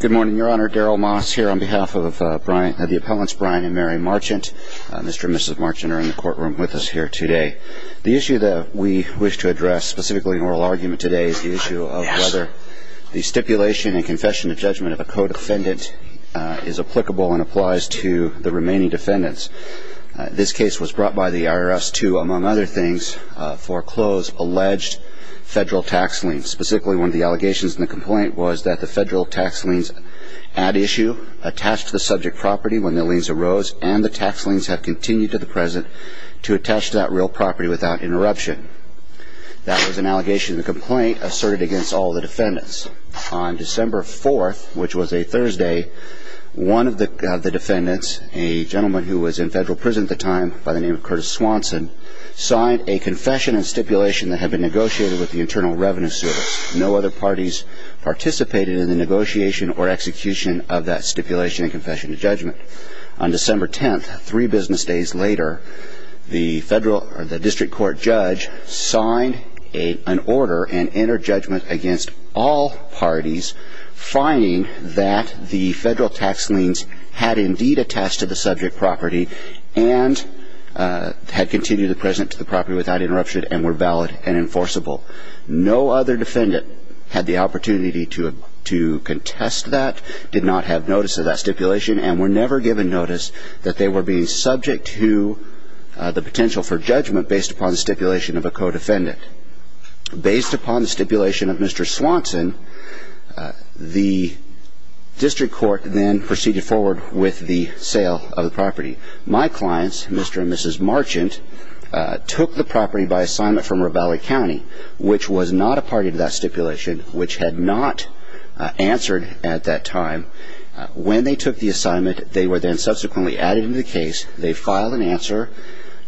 Good morning, Your Honor. Darrell Moss here on behalf of the appellants Brian and Mary Marchant. Mr. and Mrs. Marchant are in the courtroom with us here today. The issue that we wish to address, specifically an oral argument today, is the issue of whether the stipulation and confession of judgment of a co-defendant is applicable and applies to the remaining defendants. This case was brought by the IRS to, among other things, foreclose alleged federal tax liens. Specifically, one of the allegations in the complaint was that the federal tax liens at issue attached to the subject property when the liens arose and the tax liens have continued to the present to attach to that real property without interruption. That was an allegation in the complaint asserted against all of the defendants. On December 4th, which was a Thursday, one of the defendants, a gentleman who was in federal prison at the time by the name of Curtis Swanson, signed a confession and stipulation that had been negotiated with the Internal Revenue Service. No other parties participated in the negotiation or execution of that stipulation and confession of judgment. On December 10th, three business days later, the district court judge signed an order and entered judgment against all parties finding that the federal tax liens had indeed attached to the subject property and had continued to the present to the property without interruption and were valid and enforceable. No other defendant had the opportunity to contest that, did not have notice of that stipulation, and were never given notice that they were being subject to the potential for judgment based upon the stipulation of a co-defendant. Based upon the stipulation of Mr. Swanson, the district court then proceeded forward with the sale of the property. My clients, Mr. and Mrs. Marchant, took the property by assignment from Ravalli County, which was not a party to that stipulation, which had not answered at that time. When they took the assignment, they were then subsequently added to the case. They filed an answer.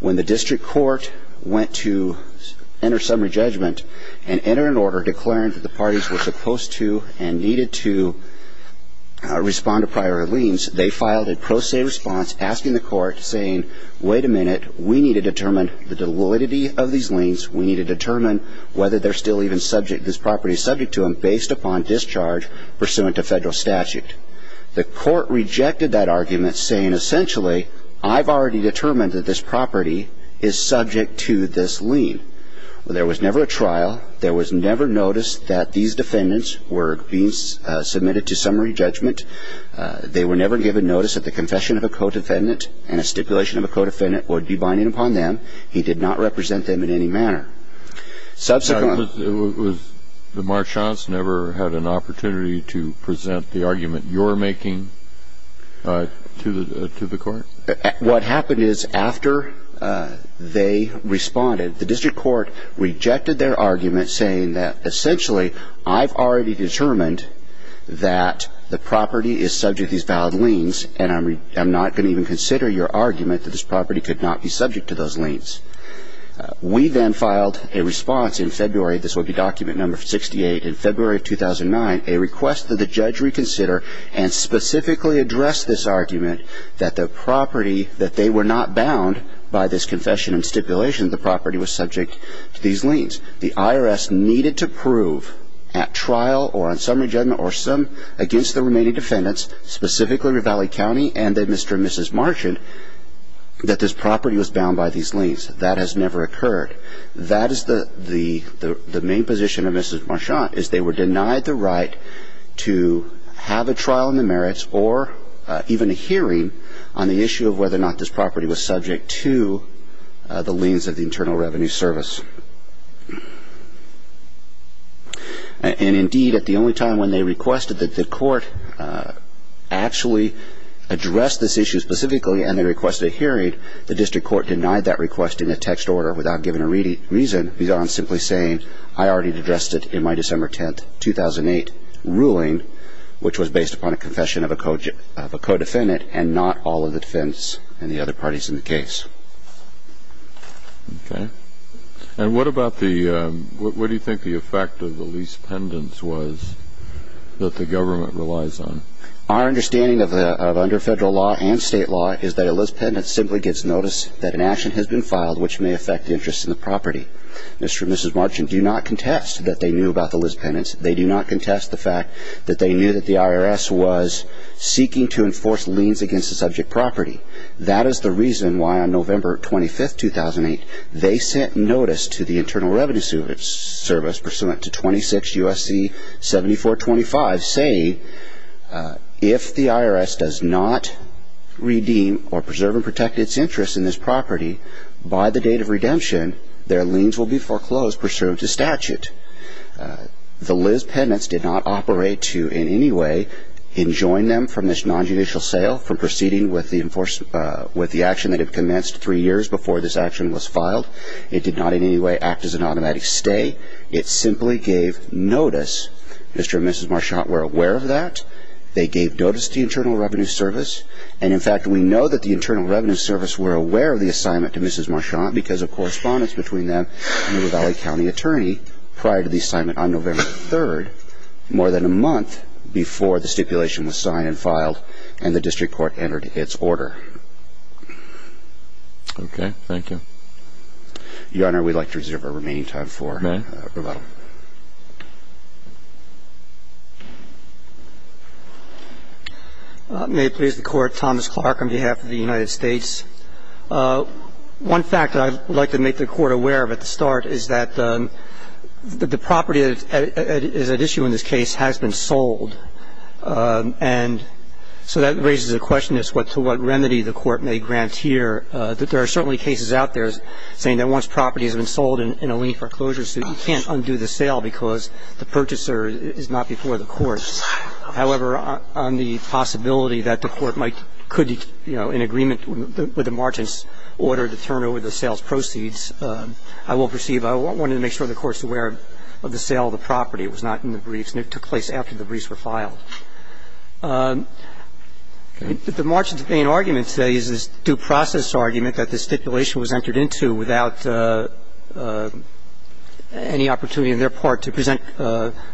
When the district court went to enter summary judgment and enter an order declaring that the parties were supposed to and needed to respond to prior liens, they filed a pro se response asking the court saying, wait a minute, we need to determine the validity of these liens. We need to determine whether they're still even subject, this property is subject to them based upon discharge pursuant to federal statute. The court rejected that argument saying, essentially, I've already determined that this property is subject to this lien. There was never a trial. There was never notice that these defendants were being submitted to summary judgment. They were never given notice that the confession of a co-defendant and a stipulation of a co-defendant would be binding upon them. He did not represent them in any manner. Subsequent. The Marchants never had an opportunity to present the argument you're making to the court? What happened is after they responded, the district court rejected their argument saying that, essentially, I've already determined that the property is subject to these valid liens, and I'm not going to even consider your argument that this property could not be subject to those liens. We then filed a response in February, this would be document number 68, in February of 2009, a request that the judge reconsider and specifically address this argument that the property, that they were not bound by this confession and stipulation that the property was subject to these liens. The IRS needed to prove at trial or on summary judgment or some, against the remaining defendants, specifically Ravalli County and then Mr. and Mrs. Marchant, that this property was bound by these liens. That has never occurred. That is the main position of Mrs. Marchant is they were denied the right to have a trial in the merits or even a hearing on the issue of whether or not this property was subject to the liens of the Internal Revenue Service. And, indeed, at the only time when they requested that the court actually address this issue specifically and they requested a hearing, the district court denied that request in a text order without giving a reason beyond simply saying I already addressed it in my December 10, 2008, ruling, which was based upon a confession of a co-defendant and not all of the defense and the other parties in the case. Okay. And what about the, what do you think the effect of the lease pendants was that the government relies on? Our understanding of under federal law and state law is that a lease pendant simply gets notice that an action has been filed which may affect the interest in the property. Mr. and Mrs. Marchant do not contest that they knew about the lease pendants. They do not contest the fact that they knew that the IRS was seeking to enforce liens against the subject property. That is the reason why on November 25, 2008, they sent notice to the Internal Revenue Service pursuant to 26 U.S.C. 7425 saying if the IRS does not redeem or preserve and protect its interest in this property by the date of redemption, their liens will be foreclosed pursuant to statute. The lease pendants did not operate to in any way enjoin them from this nonjudicial sale from proceeding with the action that had commenced three years before this action was filed. It did not in any way act as an automatic stay. It simply gave notice. Mr. and Mrs. Marchant were aware of that. They gave notice to the Internal Revenue Service. And in fact, we know that the Internal Revenue Service were aware of the assignment to Mrs. Marchant because of correspondence between them and the Valley County Attorney prior to the assignment on November 3, And the IRS did not enter the contract. In fact, the IRS entered the contract more than a month before the stipulation was signed and filed and the district court entered its order. Okay. Thank you. Your Honor, we would like to reserve our remaining time for rebuttal. May I? I would like to make a comment on behalf of the court. I would like to make a comment on behalf of the United States. One fact that I would like to make the court aware of at the start is that the property that is at issue in this case has been sold. And so that raises the question as to what remedy the court may grant here. There are certainly cases out there saying that once property has been sold in a lien foreclosure suit, you can't undo the sale because the purchaser is not before the courts. However, on the possibility that the court might could, you know, in agreement with the Marchant's order to turn over the sales proceeds, I will perceive I wanted to make sure the court's aware of the sale of the property. It was not in the briefs and it took place after the briefs were filed. The Marchant's main argument today is this due process argument that the stipulation was entered into without any opportunity on their part to present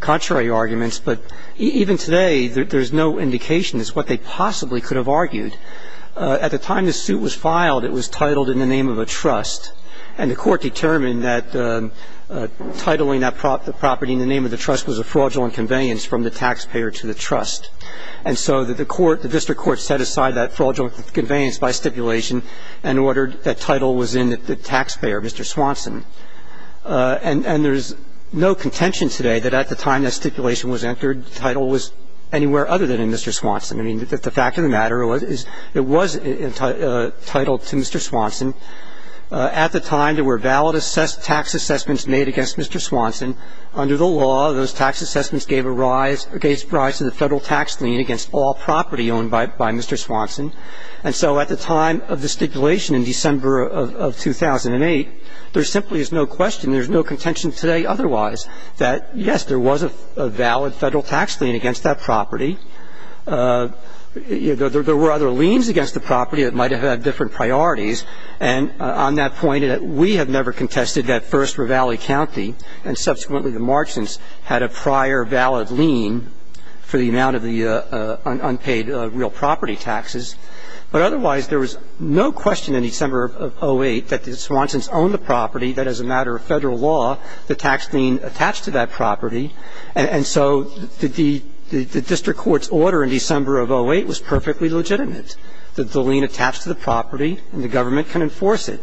contrary arguments. But even today, there's no indication as to what they possibly could have argued. At the time the suit was filed, it was titled in the name of a trust. And the court determined that titling that property in the name of the trust was a fraudulent conveyance from the taxpayer to the trust. And so the court, the district court set aside that fraudulent conveyance by stipulation and ordered that title was in the taxpayer, Mr. Swanson. And there's no contention today that at the time that stipulation was entered, the title was anywhere other than in Mr. Swanson. I mean, the fact of the matter is it was entitled to Mr. Swanson. At the time, there were valid tax assessments made against Mr. Swanson. Under the law, those tax assessments gave a rise to the Federal tax lien against all property owned by Mr. Swanson. And so at the time of the stipulation in December of 2008, there simply is no question, there's no contention today otherwise that, yes, there was a valid Federal tax lien against that property. There were other liens against the property that might have had different priorities. And on that point, we have never contested that first Ravalli County and subsequently the Marchants had a prior valid lien for the amount of the unpaid real property taxes. But otherwise, there was no question in December of 2008 that the Swansons owned the property, that as a matter of Federal law, the tax lien attached to that property. And so the district court's order in December of 2008 was perfectly legitimate, that the lien attached to the property and the government can enforce it.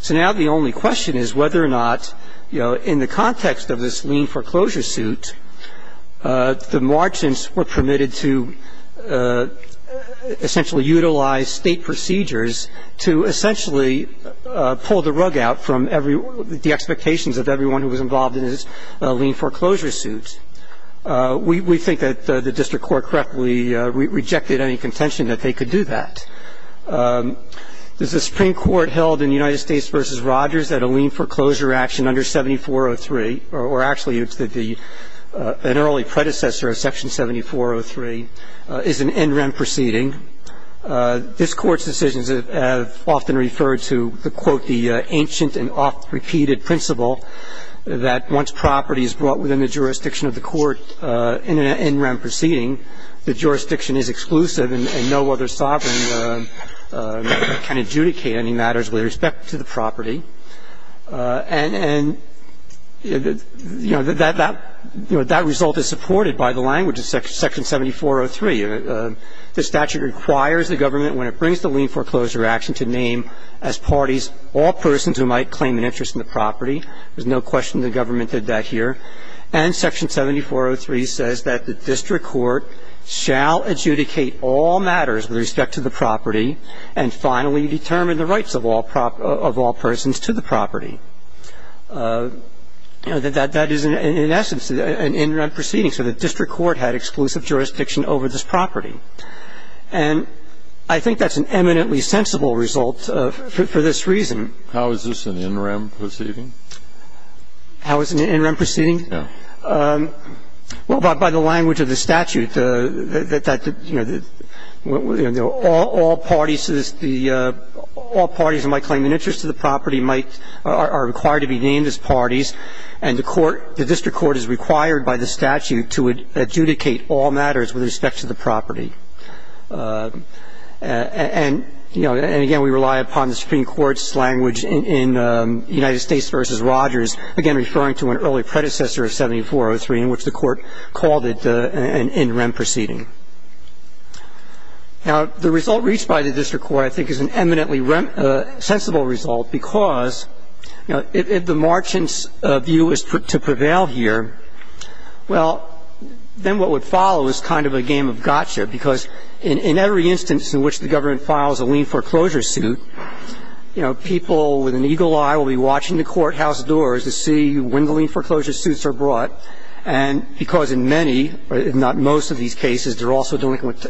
So now the only question is whether or not, you know, in the context of this lien foreclosure suit, the Marchants were permitted to essentially utilize State procedures to essentially pull the rug out from the expectations of everyone who was involved in this lien foreclosure suit. We think that the district court correctly rejected any contention that they could do that. Does the Supreme Court held in the United States v. Rogers that a lien foreclosure action under 7403, or actually it's an early predecessor of Section 7403, is an in-rem proceeding? This Court's decisions have often referred to the, quote, the ancient and oft-repeated principle that once property is brought within the jurisdiction of the court in an in-rem proceeding, the jurisdiction is exclusive and no other sovereign can adjudicate any matters with respect to the property. And, you know, that result is supported by the language of Section 7403. The statute requires the government, when it brings the lien foreclosure action, to name as parties all persons who might claim an interest in the property. There's no question the government did that here. And Section 7403 says that the district court shall adjudicate all matters with respect to the property and finally determine the rights of all persons to the property. That is, in essence, an in-rem proceeding. So the district court had exclusive jurisdiction over this property. And I think that's an eminently sensible result for this reason. How is this an in-rem proceeding? How is it an in-rem proceeding? No. Well, by the language of the statute, that, you know, all parties to this, all parties who might claim an interest to the property might, are required to be named as parties, and the court, the district court is required by the statute to adjudicate all matters with respect to the property. And, you know, and again, we rely upon the Supreme Court's language in United States versus Rogers, again, referring to an early predecessor of 7403 in which the court called it an in-rem proceeding. Now, the result reached by the district court, I think, is an eminently sensible result because, you know, if the merchant's view is to prevail here, well, then what would follow is kind of a game of gotcha because in every instance in which the government files a lien foreclosure suit, you know, people with an eagle eye will be watching the courthouse doors to see when the lien foreclosure suits are brought, and because in many, if not most of these cases, they're also dealing with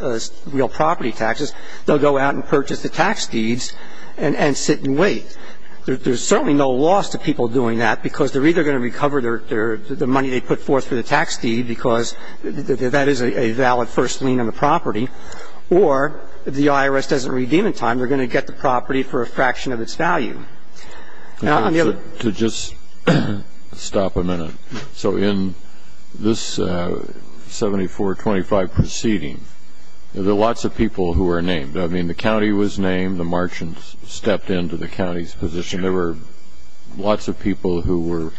real property taxes, they'll go out and purchase the tax deeds and sit and wait. There's certainly no loss to people doing that because they're either going to recover their the money they put forth for the tax deed because that is a valid first lien on the property, or if the IRS doesn't redeem in time, they're going to get the property for a fraction of its value. Now, I'm going to... To just stop a minute. So in this 7425 proceeding, there are lots of people who are named. I mean, the county was named. The merchants stepped into the county's position. There were lots of people who were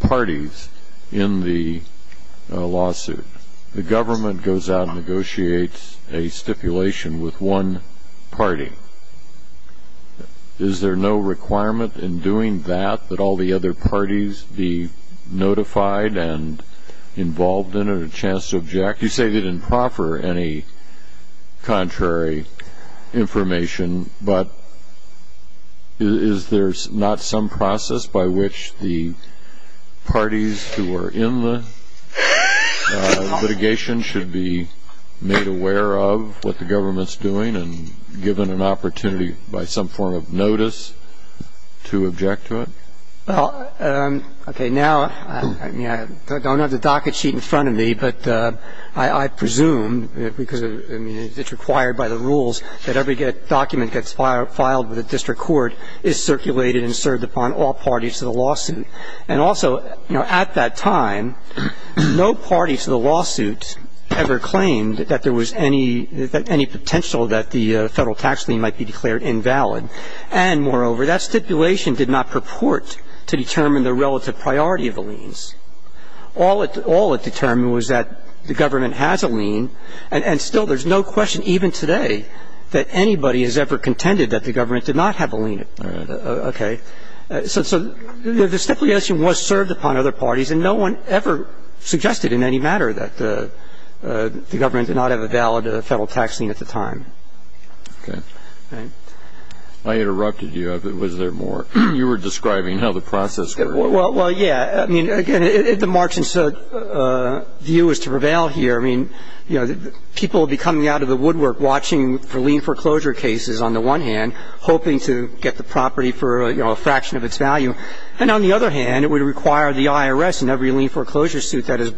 parties in the lawsuit. The government goes out and negotiates a stipulation with one party. Is there no requirement in doing that that all the other parties be notified and involved in it or chance to object? You say they didn't proffer any contrary information, but is there not some process by which the parties who are in the litigation should be made aware of what the government's doing and given an opportunity by some form of notice to object to it? Well, okay, now, I mean, I don't have the docket sheet in front of me, but I presume because, I mean, it's required by the rules that every document gets filed with a district court is circulated and served upon all parties to the lawsuit. And also, you know, at that time, no party to the lawsuit ever claimed that there was any potential that the Federal tax lien might be declared invalid. And moreover, that stipulation did not purport to determine the relative priority of the liens. All it determined was that the government has a lien, and still there's no question even today that anybody has ever contended that the government did not have a lien. Okay. So the stipulation was served upon other parties, and no one ever suggested in any matter that the government did not have a valid Federal tax lien at the time. Okay. I interrupted you. Was there more? You were describing how the process works. Well, yeah. I mean, again, the March and Sugg view is to prevail here. I mean, you know, people will be coming out of the woodwork watching for lien foreclosure cases on the one hand, hoping to get the property for, you know, a fraction of its value. And on the other hand, it would require the IRS and every lien foreclosure suit that is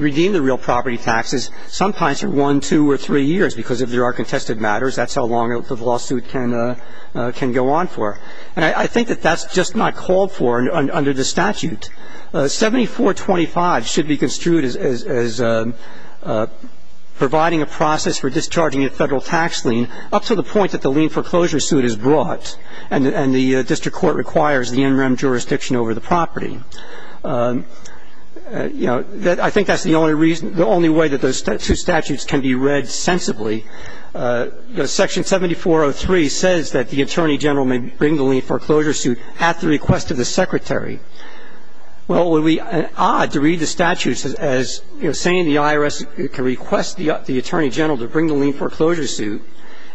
redeem the real property taxes sometimes for one, two, or three years, because if there are contested matters, that's how long the lawsuit can go on for. And I think that that's just not called for under the statute. 7425 should be construed as providing a process for discharging a Federal tax lien up to the point that the lien foreclosure suit is brought, and the district court requires the NREM jurisdiction over the property. You know, I think that's the only reason, the only way that those two statutes can be read sensibly. Section 7403 says that the attorney general may bring the lien foreclosure suit at the request of the secretary. Well, it would be odd to read the statutes as, you know, saying the IRS can request the attorney general to bring the lien foreclosure suit,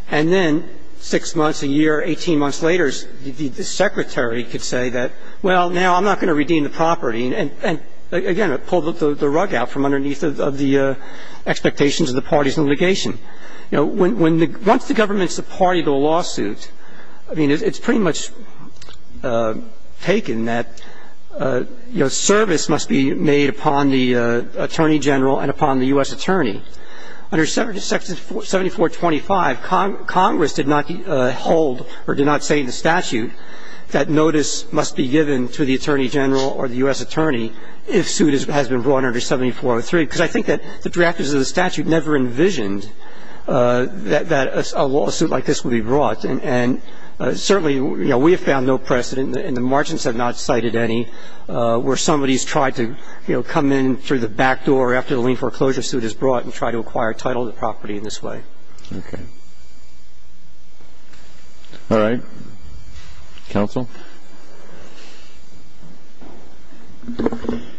and then six months, a year, 18 months later, the secretary could say that, well, now I'm not going to redeem the property. And, again, it pulled the rug out from underneath of the expectations of the parties in litigation. You know, once the government's a party to a lawsuit, I mean, it's pretty much taken that, you know, service must be made upon the attorney general and upon the U.S. attorney. Under 7425, Congress did not hold or did not say in the statute that notice must be given to the attorney general or the U.S. attorney if suit has been brought under 7403, because I think that the drafters of the statute never envisioned that a lawsuit like this would be brought. And certainly, you know, we have found no precedent, and the merchants have not cited any, where somebody's tried to, you know, come in through the back door after the lien foreclosure suit is brought and try to acquire title of the property in this way. Okay. All right. Counsel?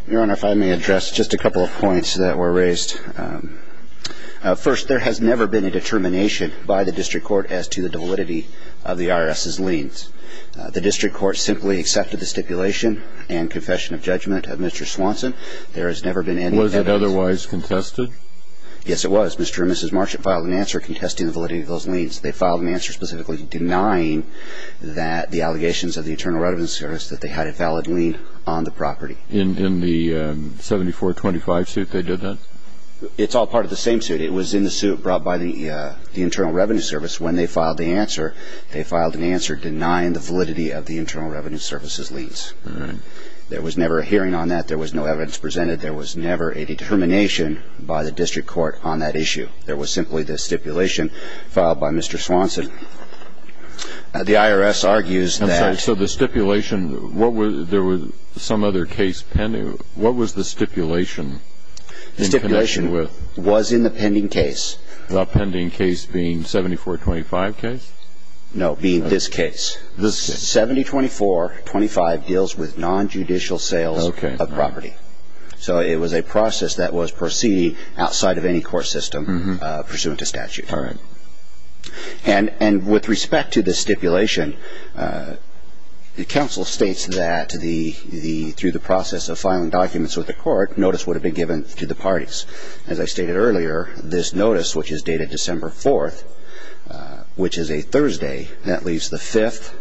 Your Honor, if I may address just a couple of points that were raised. First, there has never been a determination by the district court as to the validity of the IRS's liens. The district court simply accepted the stipulation and confession of judgment of Mr. Swanson. There has never been any evidence. Was it otherwise contested? Yes, it was. Mr. and Mrs. Marchett filed an answer contesting the validity of those liens. They filed an answer specifically denying that the allegations of the Internal Revenue Service, that they had a valid lien on the property. In the 7425 suit, they did that? It's all part of the same suit. It was in the suit brought by the Internal Revenue Service. When they filed the answer, they filed an answer denying the validity of the Internal Revenue Service's liens. All right. There was never a hearing on that. There was no evidence presented. There was never a determination by the district court on that issue. There was simply the stipulation filed by Mr. Swanson. The IRS argues that the stipulation was in the pending case. The pending case being 7425 case? No, being this case. 702425 deals with nonjudicial sales of property. So it was a process that was proceeding outside of any court system pursuant to statute. All right. And with respect to the stipulation, the counsel states that through the process of filing documents with the court, notice would have been given to the parties. As I stated earlier, this notice, which is dated December 4th, which is a Thursday, that leaves the 5th,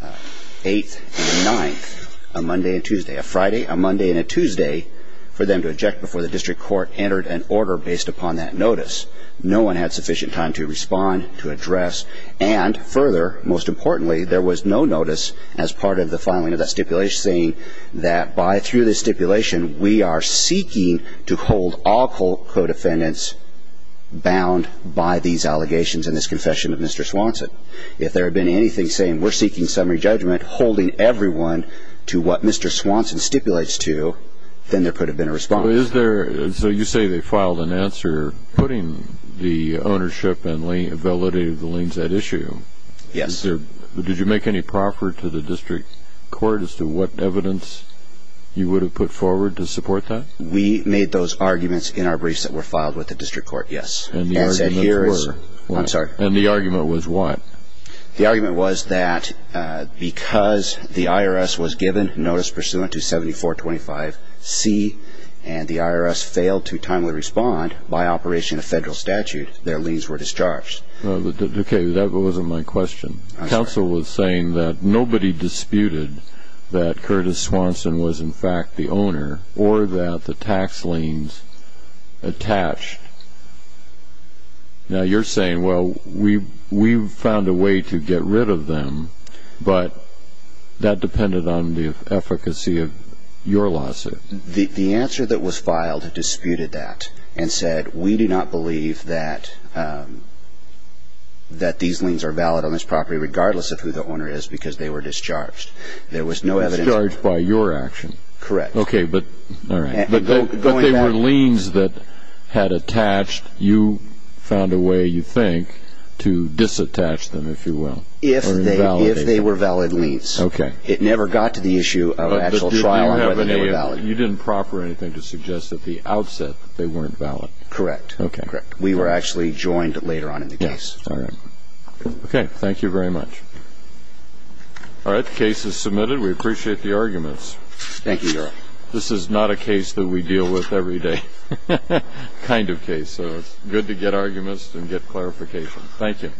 8th, and 9th, a Monday and Tuesday, a Friday, a Monday, and a Tuesday, for them to eject before the district court entered an order based upon that notice. No one had sufficient time to respond, to address, and further, most importantly, there was no notice as part of the filing of that stipulation saying that by through the stipulation, we are seeking to hold all co-defendants bound by these allegations and this confession of Mr. Swanson. If there had been anything saying we're seeking summary judgment, holding everyone to what Mr. Swanson stipulates to, then there could have been a response. So you say they filed an answer putting the ownership and validated the liens at issue. Yes. Did you make any proffer to the district court as to what evidence you would have put forward to support that? We made those arguments in our briefs that were filed with the district court, yes. And the argument was? I'm sorry. And the argument was what? The argument was that because the IRS was given notice pursuant to 7425C and the IRS failed to timely respond by operation of federal statute, their liens were discharged. Okay. That wasn't my question. I'm sorry. Counsel was saying that nobody disputed that Curtis Swanson was in fact the owner or that the tax liens attached. Now, you're saying, well, we found a way to get rid of them, but that depended on the efficacy of your lawsuit. The answer that was filed disputed that and said we do not believe that these liens are valid on this property regardless of who the owner is because they were discharged. They were discharged by your action. Correct. Okay, but going back. But they were liens that had attached. You found a way, you think, to disattach them, if you will. If they were valid liens. Okay. It never got to the issue of actual trial on whether they were valid. You didn't proffer anything to suggest at the outset that they weren't valid. Correct. Okay. Correct. We were actually joined later on in the case. Yes. All right. Okay. Thank you very much. All right. The case is submitted. We appreciate the arguments. Thank you, Your Honor. This is not a case that we deal with every day kind of case, so it's good to get arguments and get clarification. Thank you.